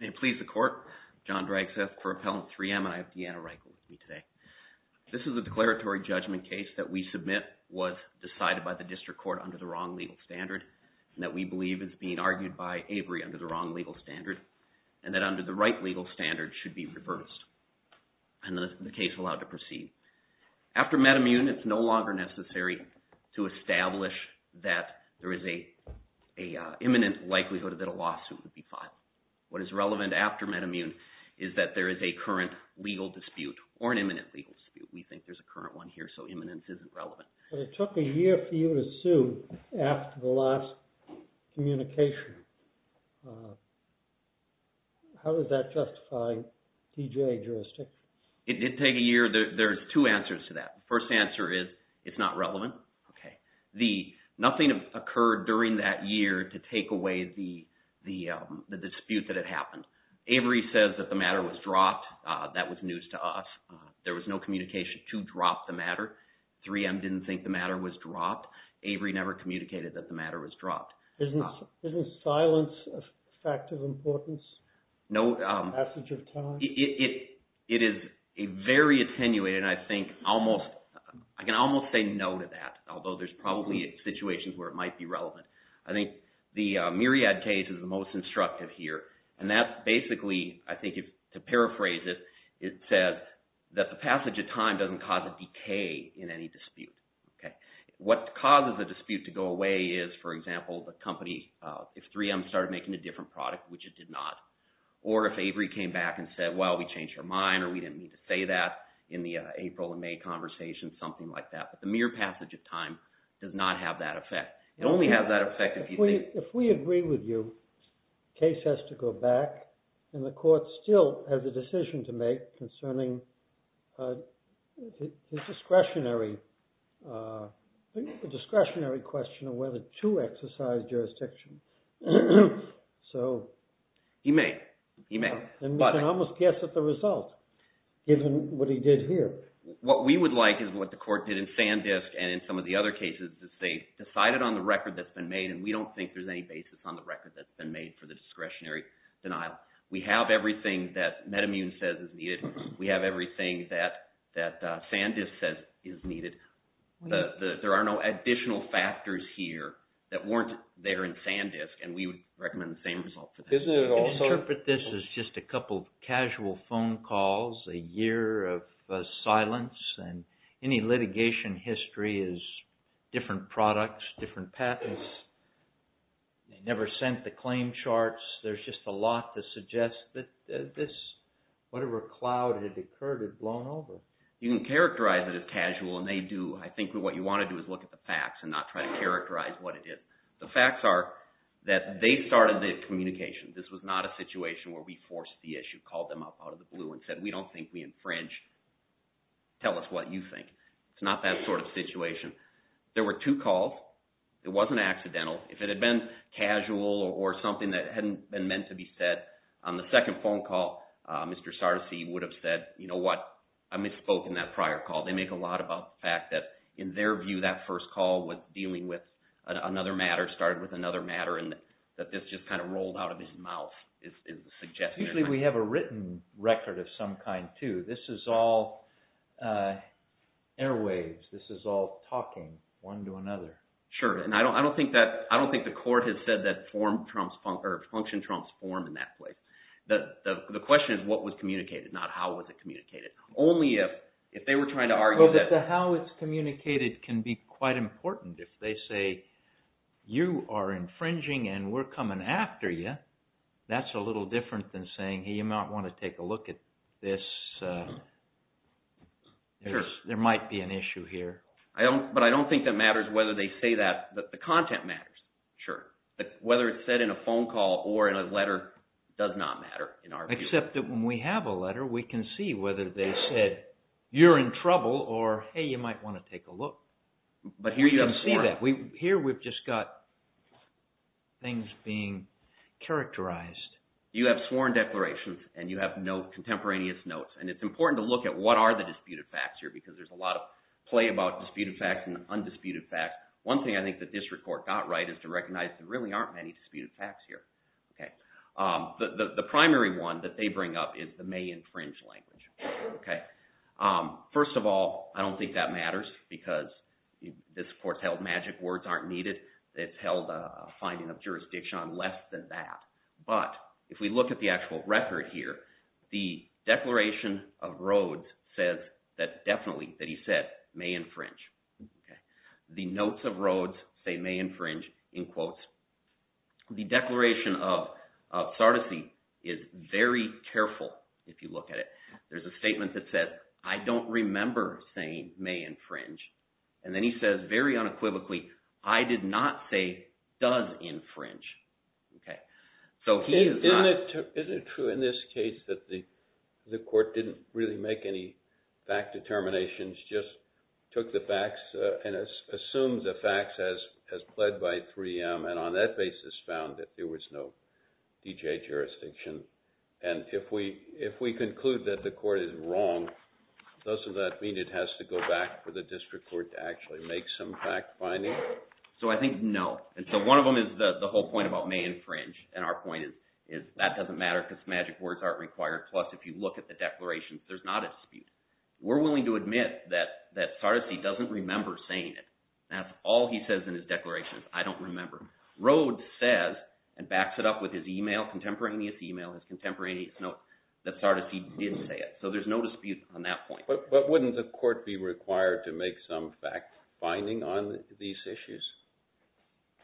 May it please the Court, John Dragseth for Appellant 3M. I have Deanna Reichel with me today. This is a declaratory judgment case that we submit was decided by the District Court under the wrong legal standard, and that we believe is being argued by Avery under the wrong legal standard, and that under the right legal standard should be reversed. And to establish that there is an imminent likelihood that a lawsuit would be filed. What is relevant after MedImmune is that there is a current legal dispute, or an imminent legal dispute. We think there's a current one here, so imminence isn't relevant. It took a year for you to sue after the last communication. How does that justify TJA jurisdiction? It did take a year. There's two answers to that. The first answer is it's not relevant. Nothing occurred during that year to take away the dispute that had happened. Avery says that the matter was dropped. That was news to us. There was no communication to drop the matter. 3M didn't think the matter was dropped. Avery never communicated that the matter was dropped. Isn't silence a fact of importance, a passage of time? It is very attenuated, and I can almost say no to that, although there's probably situations where it might be relevant. I think the Myriad case is the most instructive here, and that's basically, I think to paraphrase it, it says that the passage of time doesn't cause a decay in any dispute. What causes a dispute to go away is, for example, if 3M started making a different product, which it did not, or if Avery came back and said, well, we changed our mind, or we didn't mean to say that in the April and May conversation, something like that. But the mere passage of time does not have that effect. It only has that effect if you think... If we agree with you, the case has to go back, and the court still has a decision to make concerning the discretionary question of whether to exercise jurisdiction. He may. He may. And we can almost guess at the result, given what he did here. What we would like is what the court did in Sandisk, and in some of the other cases, is they decided on the record that's been made, and we don't think there's any basis on the record that's been made for the discretionary denial. We have everything that MedImmune says is needed. We have everything that Sandisk says is needed. There are no additional factors here that weren't there in Sandisk, and we would recommend the same result for that. Isn't it also... I interpret this as just a couple of casual phone calls, a year of silence, and any litigation history is different products, different patents. They never sent the claim charts. There's just a lot to suggest that this, whatever cloud had occurred, had blown over. You can characterize it as casual, and they do. I think what you want to do is look at the facts and not try to characterize what it is. The facts are that they started the communication. This was not a situation where we forced the issue, called them up out of the blue and said, we don't think we infringed. Tell us what you think. It's not that sort of situation. There were two calls. It wasn't accidental. If it had been casual or something that hadn't been meant to be said, on the second phone call, Mr. Sardisy would have said, you know what, I misspoke in that prior call. They make a lot about the fact that in their view, that first call was dealing with another matter, started with another matter, and that this just kind of rolled out of his mouth is the suggestion. Usually we have a written record of some kind, too. This is all airwaves. This is all talking one to another. Sure, and I don't think the court has said that function trumps form in that place. The question is what was communicated, not how was it communicated. Only if they were trying to argue that... But the how it's communicated can be quite important. If they say, you are infringing and we're coming after you, that's a little different than saying, hey, you might want to take a look at this. There might be an issue here. But I don't think that matters whether they say that. The content matters, sure, but whether it's said in a phone call or in a letter does not matter in our view. Except that when we have a letter, we can see whether they said, you're in trouble, or hey, you might want to take a look. But here you have sworn... Here we've just got things being characterized. You have sworn declarations and you have contemporaneous notes, and it's important to look at what are the disputed facts here because there's a lot of play about disputed facts and undisputed facts. One thing I think the district court got right is to recognize there really aren't many disputed facts here. The primary one that they bring up is the may infringe language. First of all, I don't think that matters because this court's held magic words aren't needed. It's held a finding of jurisdiction on less than that. But if we look at the actual record here, the declaration of Rhodes says that definitely that he said may infringe. The notes of Rhodes say may infringe, in quotes. The declaration of Sardisy is very careful if you look at it. There's a statement that says, I don't remember saying may infringe. And then he says very unequivocally, I did not say does infringe. Is it true in this case that the court didn't really make any fact determinations, just took the facts and assumed the facts as pled by 3M and on that basis found that there was no D.J. jurisdiction? And if we conclude that the court is wrong, doesn't that mean it has to go back to the district court to actually make some fact finding? So I think no. And so one of them is the whole point about may infringe, and our point is that doesn't matter because magic words aren't required, plus if you look at the declaration, there's not a dispute. We're willing to admit that Sardisy doesn't remember saying it. That's all he says in his declaration, I don't remember. Rhodes says, and backs it up with his email, contemporaneous email, his contemporaneous note, that Sardisy did say it. So there's no dispute on that point. But wouldn't the court be required to make some fact finding on these issues?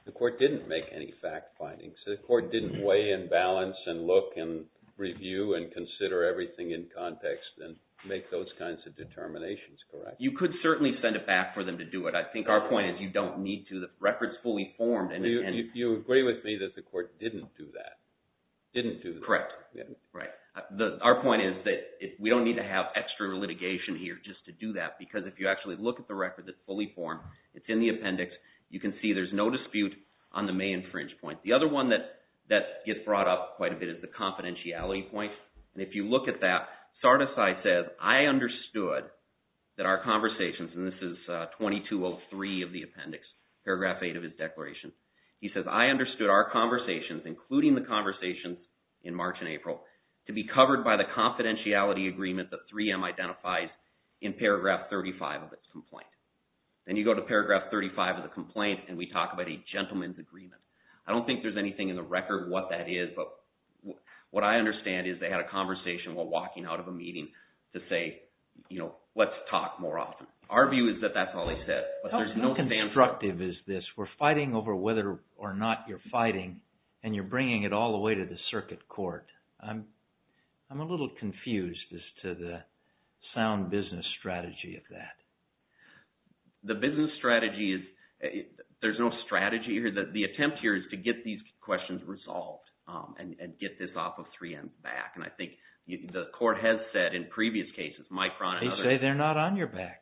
The court didn't make any fact findings. The court didn't weigh and balance and look and review and consider everything in context and make those kinds of determinations, correct? You could certainly send a fact for them to do it. I think our point is you don't need to. The record's fully formed. You agree with me that the court didn't do that. Correct. Right. Our point is that we don't need to have extra litigation here just to do that because if you actually look at the record that's fully formed, it's in the appendix. You can see there's no dispute on the May infringe point. The other one that gets brought up quite a bit is the confidentiality point. If you look at that, Sardisy says, I understood that our conversations, and this is 2203 of the appendix, paragraph 8 of his declaration. He says, I understood our conversations, including the conversations in March and April, to be covered by the confidentiality agreement that 3M identifies in paragraph 35 of its complaint. Then you go to paragraph 35 of the complaint and we talk about a gentleman's agreement. I don't think there's anything in the record what that is, but what I understand is they had a conversation while walking out of a meeting to say, let's talk more often. Our view is that that's all he said, but there's no condemnation. How constructive is this? We're fighting over whether or not you're fighting and you're bringing it all the way to the circuit court. I'm a little confused as to the sound business strategy of that. The business strategy is, there's no strategy here. The attempt here is to get these questions resolved and get this off of 3M's back. I think the court has said in previous cases, Micron and others- They say they're not on your back.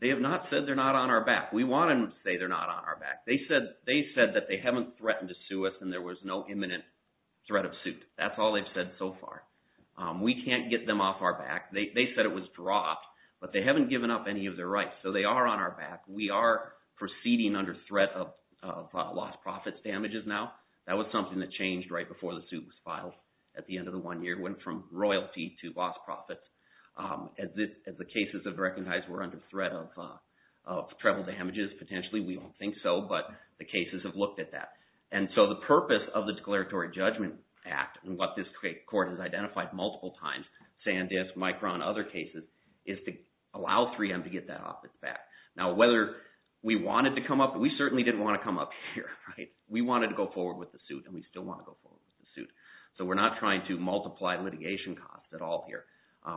They have not said they're not on our back. We want them to say they're not on our back. They said that they haven't threatened to sue us and there was no imminent threat of suit. That's all they've said so far. We can't get them off our back. They said it was dropped, but they haven't given up any of their rights, so they are on our back. We are proceeding under threat of lost profits damages now. That was something that changed right before the suit was filed at the end of the one year. It went from royalty to lost profits. As the cases have recognized, we're under threat of travel damages potentially. We don't think so, but the cases have looked at that. The purpose of the Declaratory Judgment Act and what this court has identified multiple times, Sandisk, Micron, other cases, is to allow 3M to get that off its back. Whether we wanted to come up- We certainly didn't want to come up here. We wanted to go forward with the suit and we still want to go forward with the suit. We're not trying to multiply litigation costs at all here.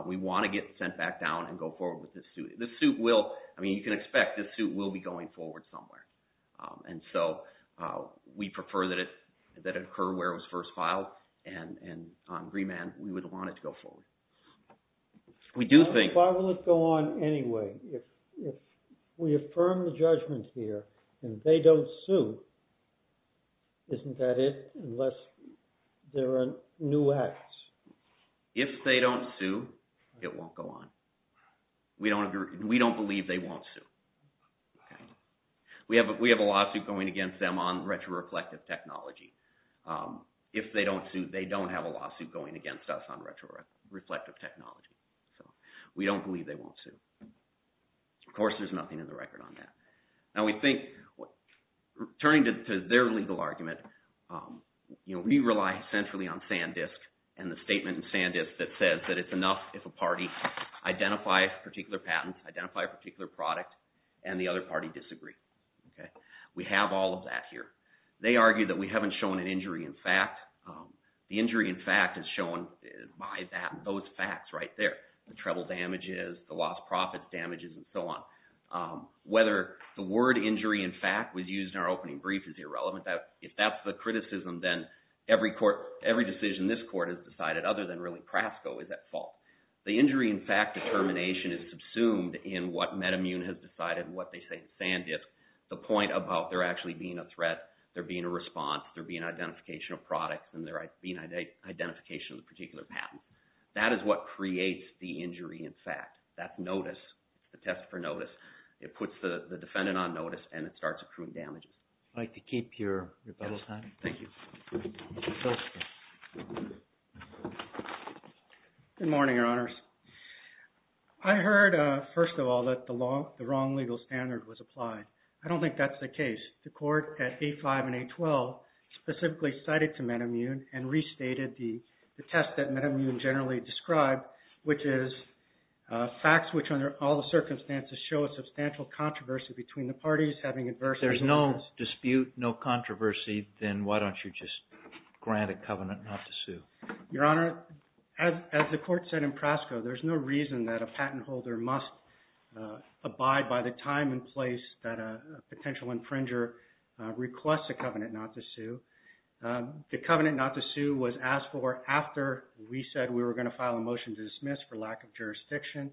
We want to get sent back down and go forward with this suit. This suit will- You can expect this suit will be going forward somewhere. We prefer that it occur where it was first filed and on remand, we would want it to go forward. We do think- Why will it go on anyway? If we affirm the judgment here and they don't sue, isn't that it unless there are new acts? If they don't sue, it won't go on. We don't believe they won't sue. We have a lawsuit going against them on retroreflective technology. If they don't sue, they don't have a lawsuit going against us on retroreflective technology. We don't believe they won't sue. Of course, there's nothing in the record on that. We think- Turning to their legal argument, we rely centrally on SanDisk and the statement in SanDisk that says that it's enough if a party identifies a particular patent, identify a particular product, and the other party disagrees. We have all of that here. They argue that we haven't shown an injury in fact. The injury in fact is shown by those facts right there, the treble damages, the lost profits damages, and so on. Whether the word injury in fact was used in our opening brief is irrelevant. If that's the criticism, then every decision this court has decided, other than really PRASCO, is at fault. The injury in fact determination is subsumed in what MedImmune has decided and what they say in SanDisk. The point about there actually being a threat, there being a response, there being identification of products, and there being identification of the particular patent. That is what creates the injury in fact. That notice, the test for notice, it puts the defendant on notice and it starts accruing damages. I'd like to keep your bubble time. Thank you. Go ahead. Good morning, Your Honors. I heard, first of all, that the wrong legal standard was applied. I don't think that's the case. The court at 8-5 and 8-12 specifically cited to MedImmune and restated the test that MedImmune generally described, which is facts which under all the circumstances show a substantial controversy between the parties having adversity. There's no dispute, no controversy, then why don't you just grant a covenant not to sue? Your Honor, as the court said in PRASCO, there's no reason that a patent holder must abide by the time and place that a potential infringer requests a covenant not to sue. The covenant not to sue was asked for after we said we were going to file a motion to dismiss for lack of jurisdiction.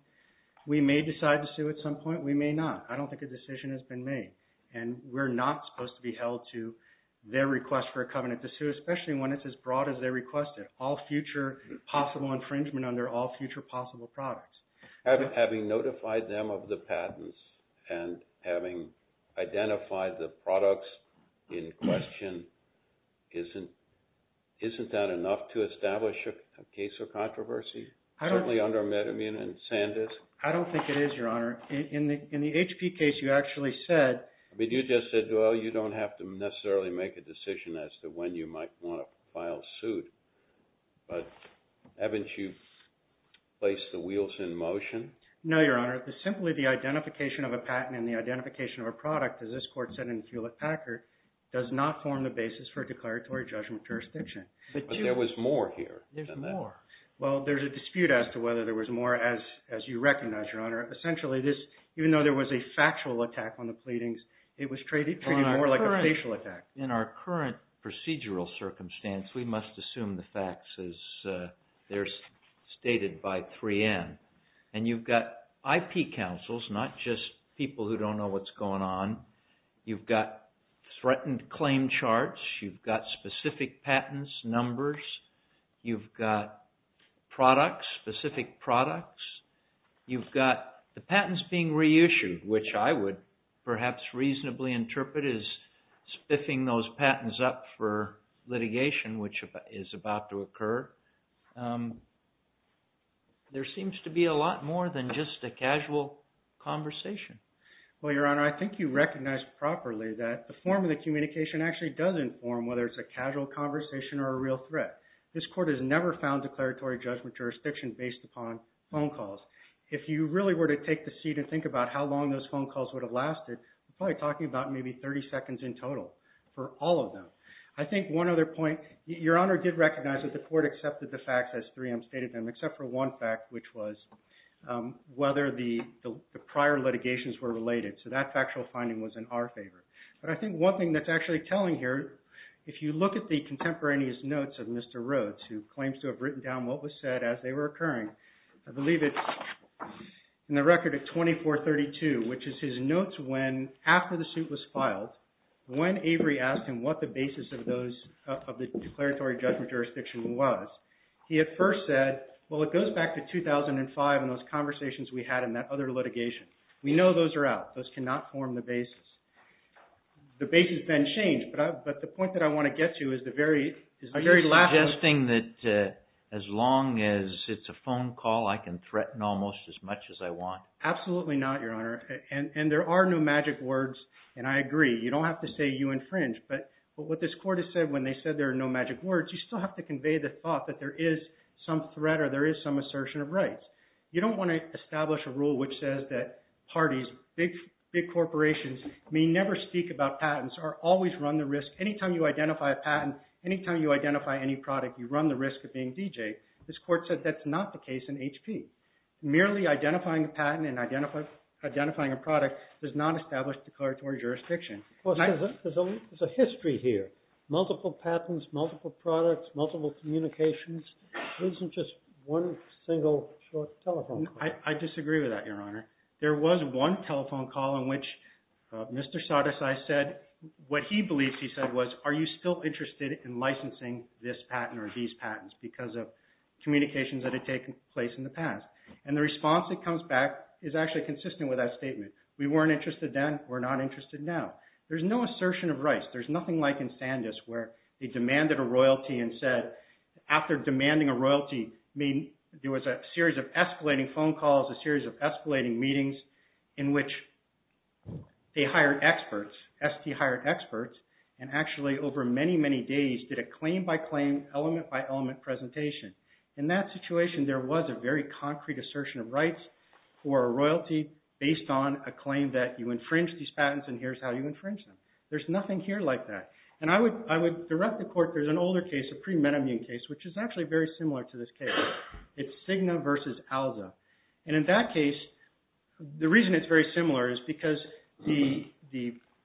We may decide to sue at some point. We may not. I don't think a decision has been made, and we're not supposed to be held to their request for a covenant to sue, especially when it's as broad as they requested. All future possible infringement under all future possible products. Having notified them of the patents and having identified the products in question, isn't that enough to establish a case of controversy, certainly under MedImmune and SanDisk? I don't think it is, Your Honor. In the HP case, you actually said... I mean, you just said, well, you don't have to necessarily make a decision as to when you might want to file suit. But haven't you placed the wheels in motion? No, Your Honor. Simply the identification of a patent and the identification of a product, as this court said in Hewlett-Packard, does not form the basis for declaratory judgment jurisdiction. But there was more here. There's more. Well, there's a dispute as to whether there was more, as you recognize, Your Honor. Essentially, even though there was a factual attack on the pleadings, it was treated more like a facial attack. In our current procedural circumstance, we must assume the facts as they're stated by 3N. And you've got IP counsels, not just people who don't know what's going on. You've got threatened claim charts. You've got specific patents, numbers. You've got products, specific products. You've got the patents being reissued, which I would perhaps reasonably interpret as spiffing those patents up for litigation, which is about to occur. There seems to be a lot more than just a casual conversation. Well, Your Honor, I think you recognize properly that the form of the communication actually does inform whether it's a casual conversation or a real threat. This court has never found declaratory judgment jurisdiction based upon phone calls. If you really were to take the seat and think about how long those phone calls would have for all of them, I think one other point, Your Honor did recognize that the court accepted the facts as 3M stated them, except for one fact, which was whether the prior litigations were related. So that factual finding was in our favor. But I think one thing that's actually telling here, if you look at the contemporaneous notes of Mr. Rhodes, who claims to have written down what was said as they were occurring, I believe it's in the record at 2432, which is his notes when, after the suit was filed, when Avery asked him what the basis of those, of the declaratory judgment jurisdiction was, he at first said, well, it goes back to 2005 and those conversations we had in that other litigation. We know those are out. Those cannot form the basis. The basis then changed. But the point that I want to get to is the very, is the very last... Are you suggesting that as long as it's a phone call, I can threaten almost as much as I want? Absolutely not, Your Honor. And there are no magic words, and I agree. You don't have to say you infringe, but what this court has said when they said there are no magic words, you still have to convey the thought that there is some threat or there is some assertion of rights. You don't want to establish a rule which says that parties, big corporations may never speak about patents or always run the risk. Anytime you identify a patent, anytime you identify any product, you run the risk of being DJed. This court said that's not the case in HP. Merely identifying a patent and identifying a product does not establish declaratory jurisdiction. There's a history here. Multiple patents, multiple products, multiple communications. This isn't just one single short telephone call. I disagree with that, Your Honor. There was one telephone call in which Mr. Sadeci said, what he believes he said was, are you still interested in licensing this patent or these patents because of communications that had taken place in the past? And the response that comes back is actually consistent with that statement. We weren't interested then, we're not interested now. There's no assertion of rights. There's nothing like in Sandus where they demanded a royalty and said, after demanding a royalty, there was a series of escalating phone calls, a series of escalating meetings in which they hired experts, ST hired experts, and actually over many, many days did a claim by claim, element by element presentation. In that situation, there was a very concrete assertion of rights for a royalty based on a claim that you infringed these patents and here's how you infringed them. There's nothing here like that. And I would direct the court, there's an older case, a pre-metamune case, which is actually very similar to this case. It's Cigna versus Alza. And in that case, the reason it's very similar is because the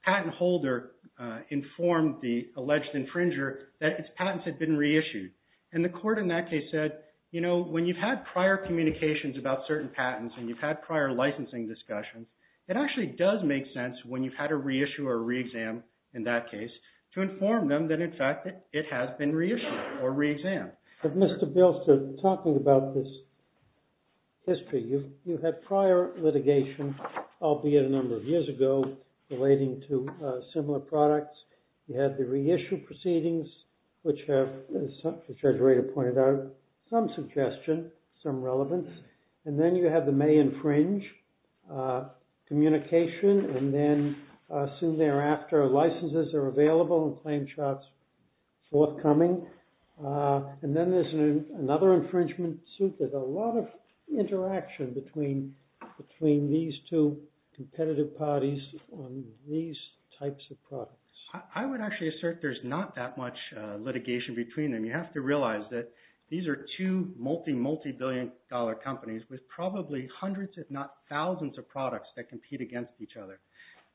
patent holder informed the alleged infringer that its patents had been reissued. And the court in that case said, you know, when you've had prior communications about certain patents and you've had prior licensing discussions, it actually does make sense when you've had a reissue or re-exam in that case to inform them that in fact it has been reissued or re-exam. But Mr. Bilster, talking about this history, you had prior litigation, albeit a number of years ago, relating to similar products. You had the reissue proceedings, which have, as Judge Rader pointed out, some suggestion, some relevance. And then you have the may infringe communication and then soon thereafter, licenses are available and claim charts forthcoming. And then there's another infringement suit that a lot of interaction between these two competitive parties on these types of products. I would actually assert there's not that much litigation between them. You have to realize that these are two multi-multi-billion dollar companies with probably hundreds if not thousands of products that compete against each other.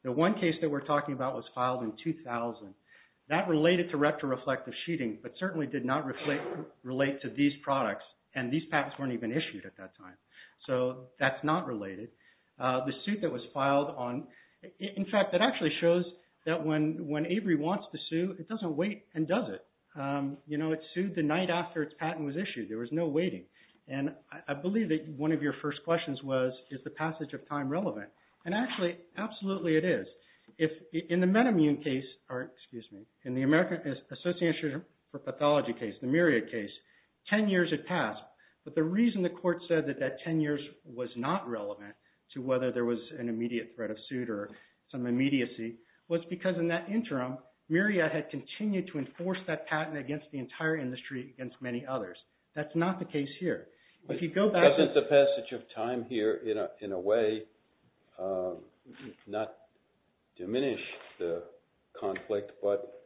The one case that we're talking about was filed in 2000. That related to retro-reflective sheeting, but certainly did not relate to these products and these patents weren't even issued at that time. So that's not related. The suit that was filed on, in fact, it actually shows that when Avery wants to sue, it doesn't wait and does it. You know, it sued the night after its patent was issued. There was no waiting. And I believe that one of your first questions was, is the passage of time relevant? And actually, absolutely it is. In the MedImmune case, or excuse me, in the American Association for Pathology case, the Myriad case, 10 years had passed. But the reason the court said that that 10 years was not relevant to whether there was an immediate threat of suit or some immediacy was because in that interim, Myriad had continued to enforce that patent against the entire industry against many others. That's not the case here. If you go back... But doesn't the passage of time here, in a way, not diminish the conflict, but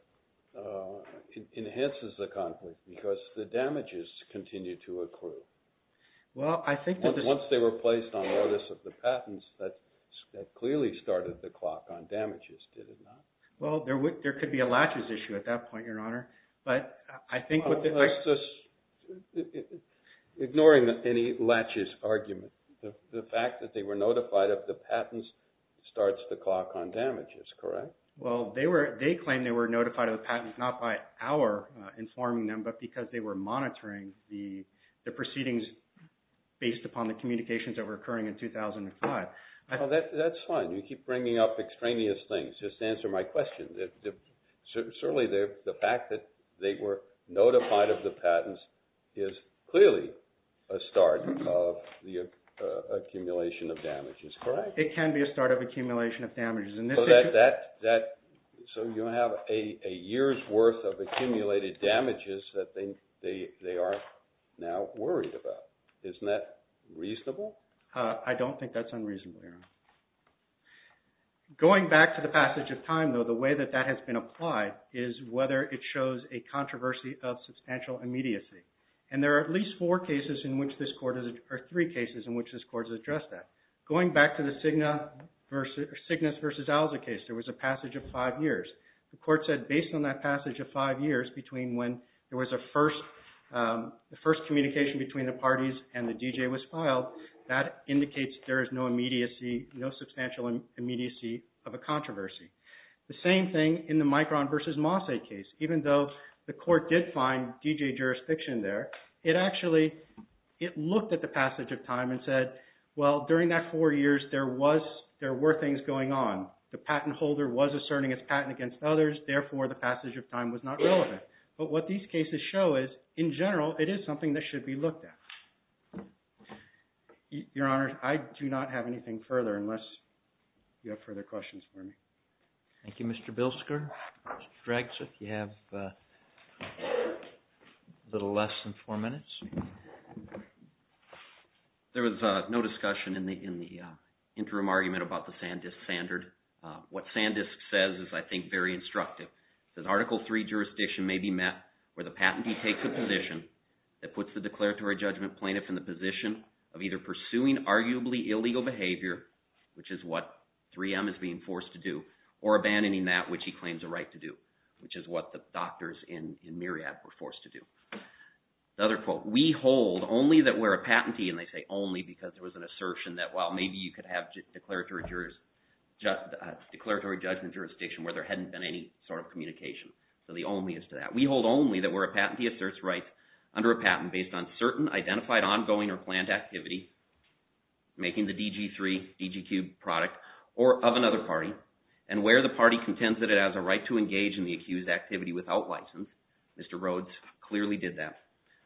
it enhances the conflict because the damages continue to accrue? Well, I think that... Once they were placed on notice of the patents, that clearly started the clock on damages, did it not? Well, there could be a latches issue at that point, Your Honor. But I think what the... Ignoring any latches argument, the fact that they were notified of the patents starts the clock on damages, correct? Well, they claim they were notified of the patents not by our informing them, but because they were monitoring the proceedings based upon the communications that were occurring in 2005. Well, that's fine. You keep bringing up extraneous things. Just answer my question. Certainly the fact that they were notified of the patents is clearly a start of the accumulation of damages, correct? It can be a start of accumulation of damages. So, you have a year's worth of accumulated damages that they are now worried about. Isn't that reasonable? I don't think that's unreasonable, Your Honor. Going back to the passage of time, though, the way that that has been applied is whether it shows a controversy of substantial immediacy. And there are at least four cases in which this court... Or three cases in which this court has addressed that. Going back to the Cygnus v. Alza case, there was a passage of five years. The court said based on that passage of five years between when there was a first communication between the parties and the DJ was filed, that indicates there is no immediacy, no substantial immediacy of a controversy. The same thing in the Micron v. Mosse case. Even though the court did find DJ jurisdiction there, it actually... of time and said, well, during that four years, there were things going on. The patent holder was asserting his patent against others, therefore the passage of time was not relevant. But what these cases show is, in general, it is something that should be looked at. Your Honor, I do not have anything further unless you have further questions for me. Thank you, Mr. Bilsker. Mr. Dragsif, you have a little less than four minutes. There was no discussion in the interim argument about the Sandisk standard. What Sandisk says is, I think, very instructive. It says, Article III jurisdiction may be met where the patentee takes a position that puts the declaratory judgment plaintiff in the position of either pursuing arguably illegal behavior, which is what 3M is being forced to do, or abandoning that which he claims a right to do, which is what the doctors in Myriad were forced to do. Another quote, we hold only that we're a patentee, and they say only because there was an assertion that, well, maybe you could have declaratory judgment jurisdiction where there hadn't been any sort of communication. So the only is to that. We hold only that we're a patentee asserts rights under a patent based on certain identified activity, making the DG3, DGQ product, or of another party, and where the party contends that it has a right to engage in the accused activity without license, Mr. Rhodes clearly did that.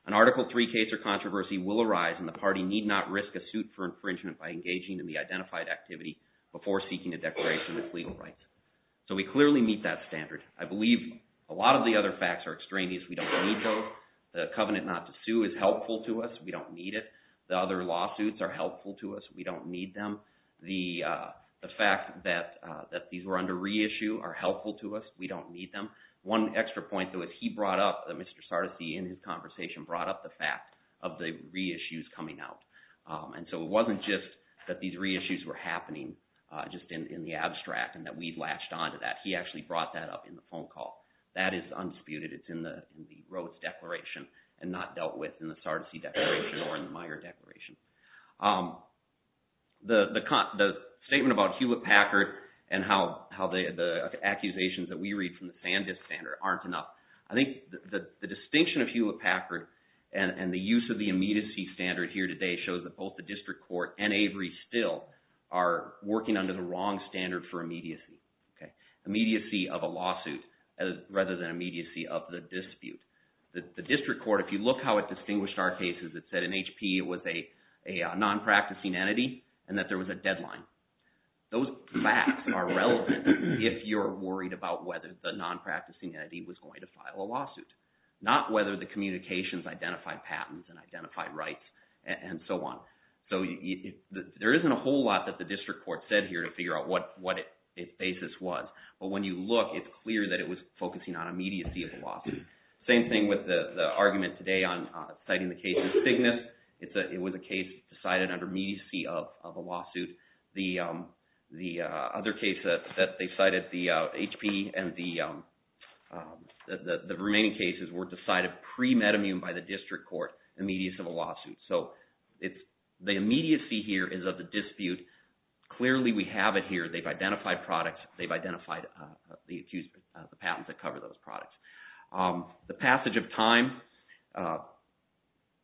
An Article III case or controversy will arise, and the party need not risk a suit for infringement by engaging in the identified activity before seeking a declaration of legal rights. So we clearly meet that standard. I believe a lot of the other facts are extraneous. We don't need those. The covenant not to sue is helpful to us. We don't need it. The other lawsuits are helpful to us. We don't need them. The fact that these were under reissue are helpful to us. We don't need them. One extra point, though, is he brought up, Mr. Sardisy, in his conversation, brought up the fact of the reissues coming out. And so it wasn't just that these reissues were happening just in the abstract and that we latched onto that. He actually brought that up in the phone call. That is unsputed. It's in the Rhodes Declaration and not dealt with in the Sardisy Declaration or in the Meyer Declaration. The statement about Hewlett-Packard and how the accusations that we read from the Sandus standard aren't enough. I think the distinction of Hewlett-Packard and the use of the immediacy standard here today shows that both the district court and Avery still are working under the wrong standard for immediacy. Okay? The district court, if you look how it distinguished our cases, it said in HP it was a non-practicing entity and that there was a deadline. Those facts are relevant if you're worried about whether the non-practicing entity was going to file a lawsuit, not whether the communications identified patents and identified rights and so on. So there isn't a whole lot that the district court said here to figure out what its basis was. But when you look, it's clear that it was focusing on immediacy of the lawsuit. Same thing with the argument today on citing the case of Cygnus. It was a case decided under immediacy of a lawsuit. The other case that they cited, the HP and the remaining cases were decided pre-metamune by the district court, immediacy of a lawsuit. So the immediacy here is of the dispute. Clearly we have it here. They've identified products. They've identified the patent that cover those products. The passage of time,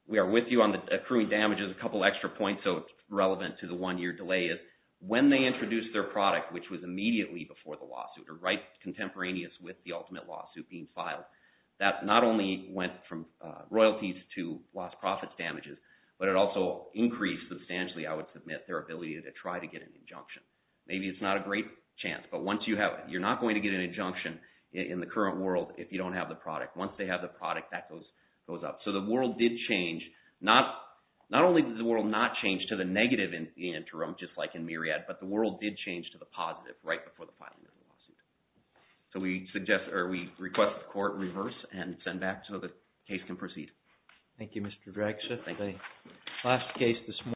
we are with you on the accruing damages. A couple extra points, so it's relevant to the one-year delay, is when they introduced their product, which was immediately before the lawsuit, or right contemporaneous with the ultimate lawsuit being filed, that not only went from royalties to lost profits damages, but it also increased substantially, I would submit, their ability to try to get an injunction. Maybe it's not a great chance, but once you have it, you're not going to get an injunction in the current world if you don't have the product. Once they have the product, that goes up. So the world did change. Not only did the world not change to the negative in the interim, just like in Myriad, but the world did change to the positive right before the filing of the lawsuit. So we request the court reverse and send back so the case can proceed. Thank you, Mr. Draxler. Thank you. The last case this morning.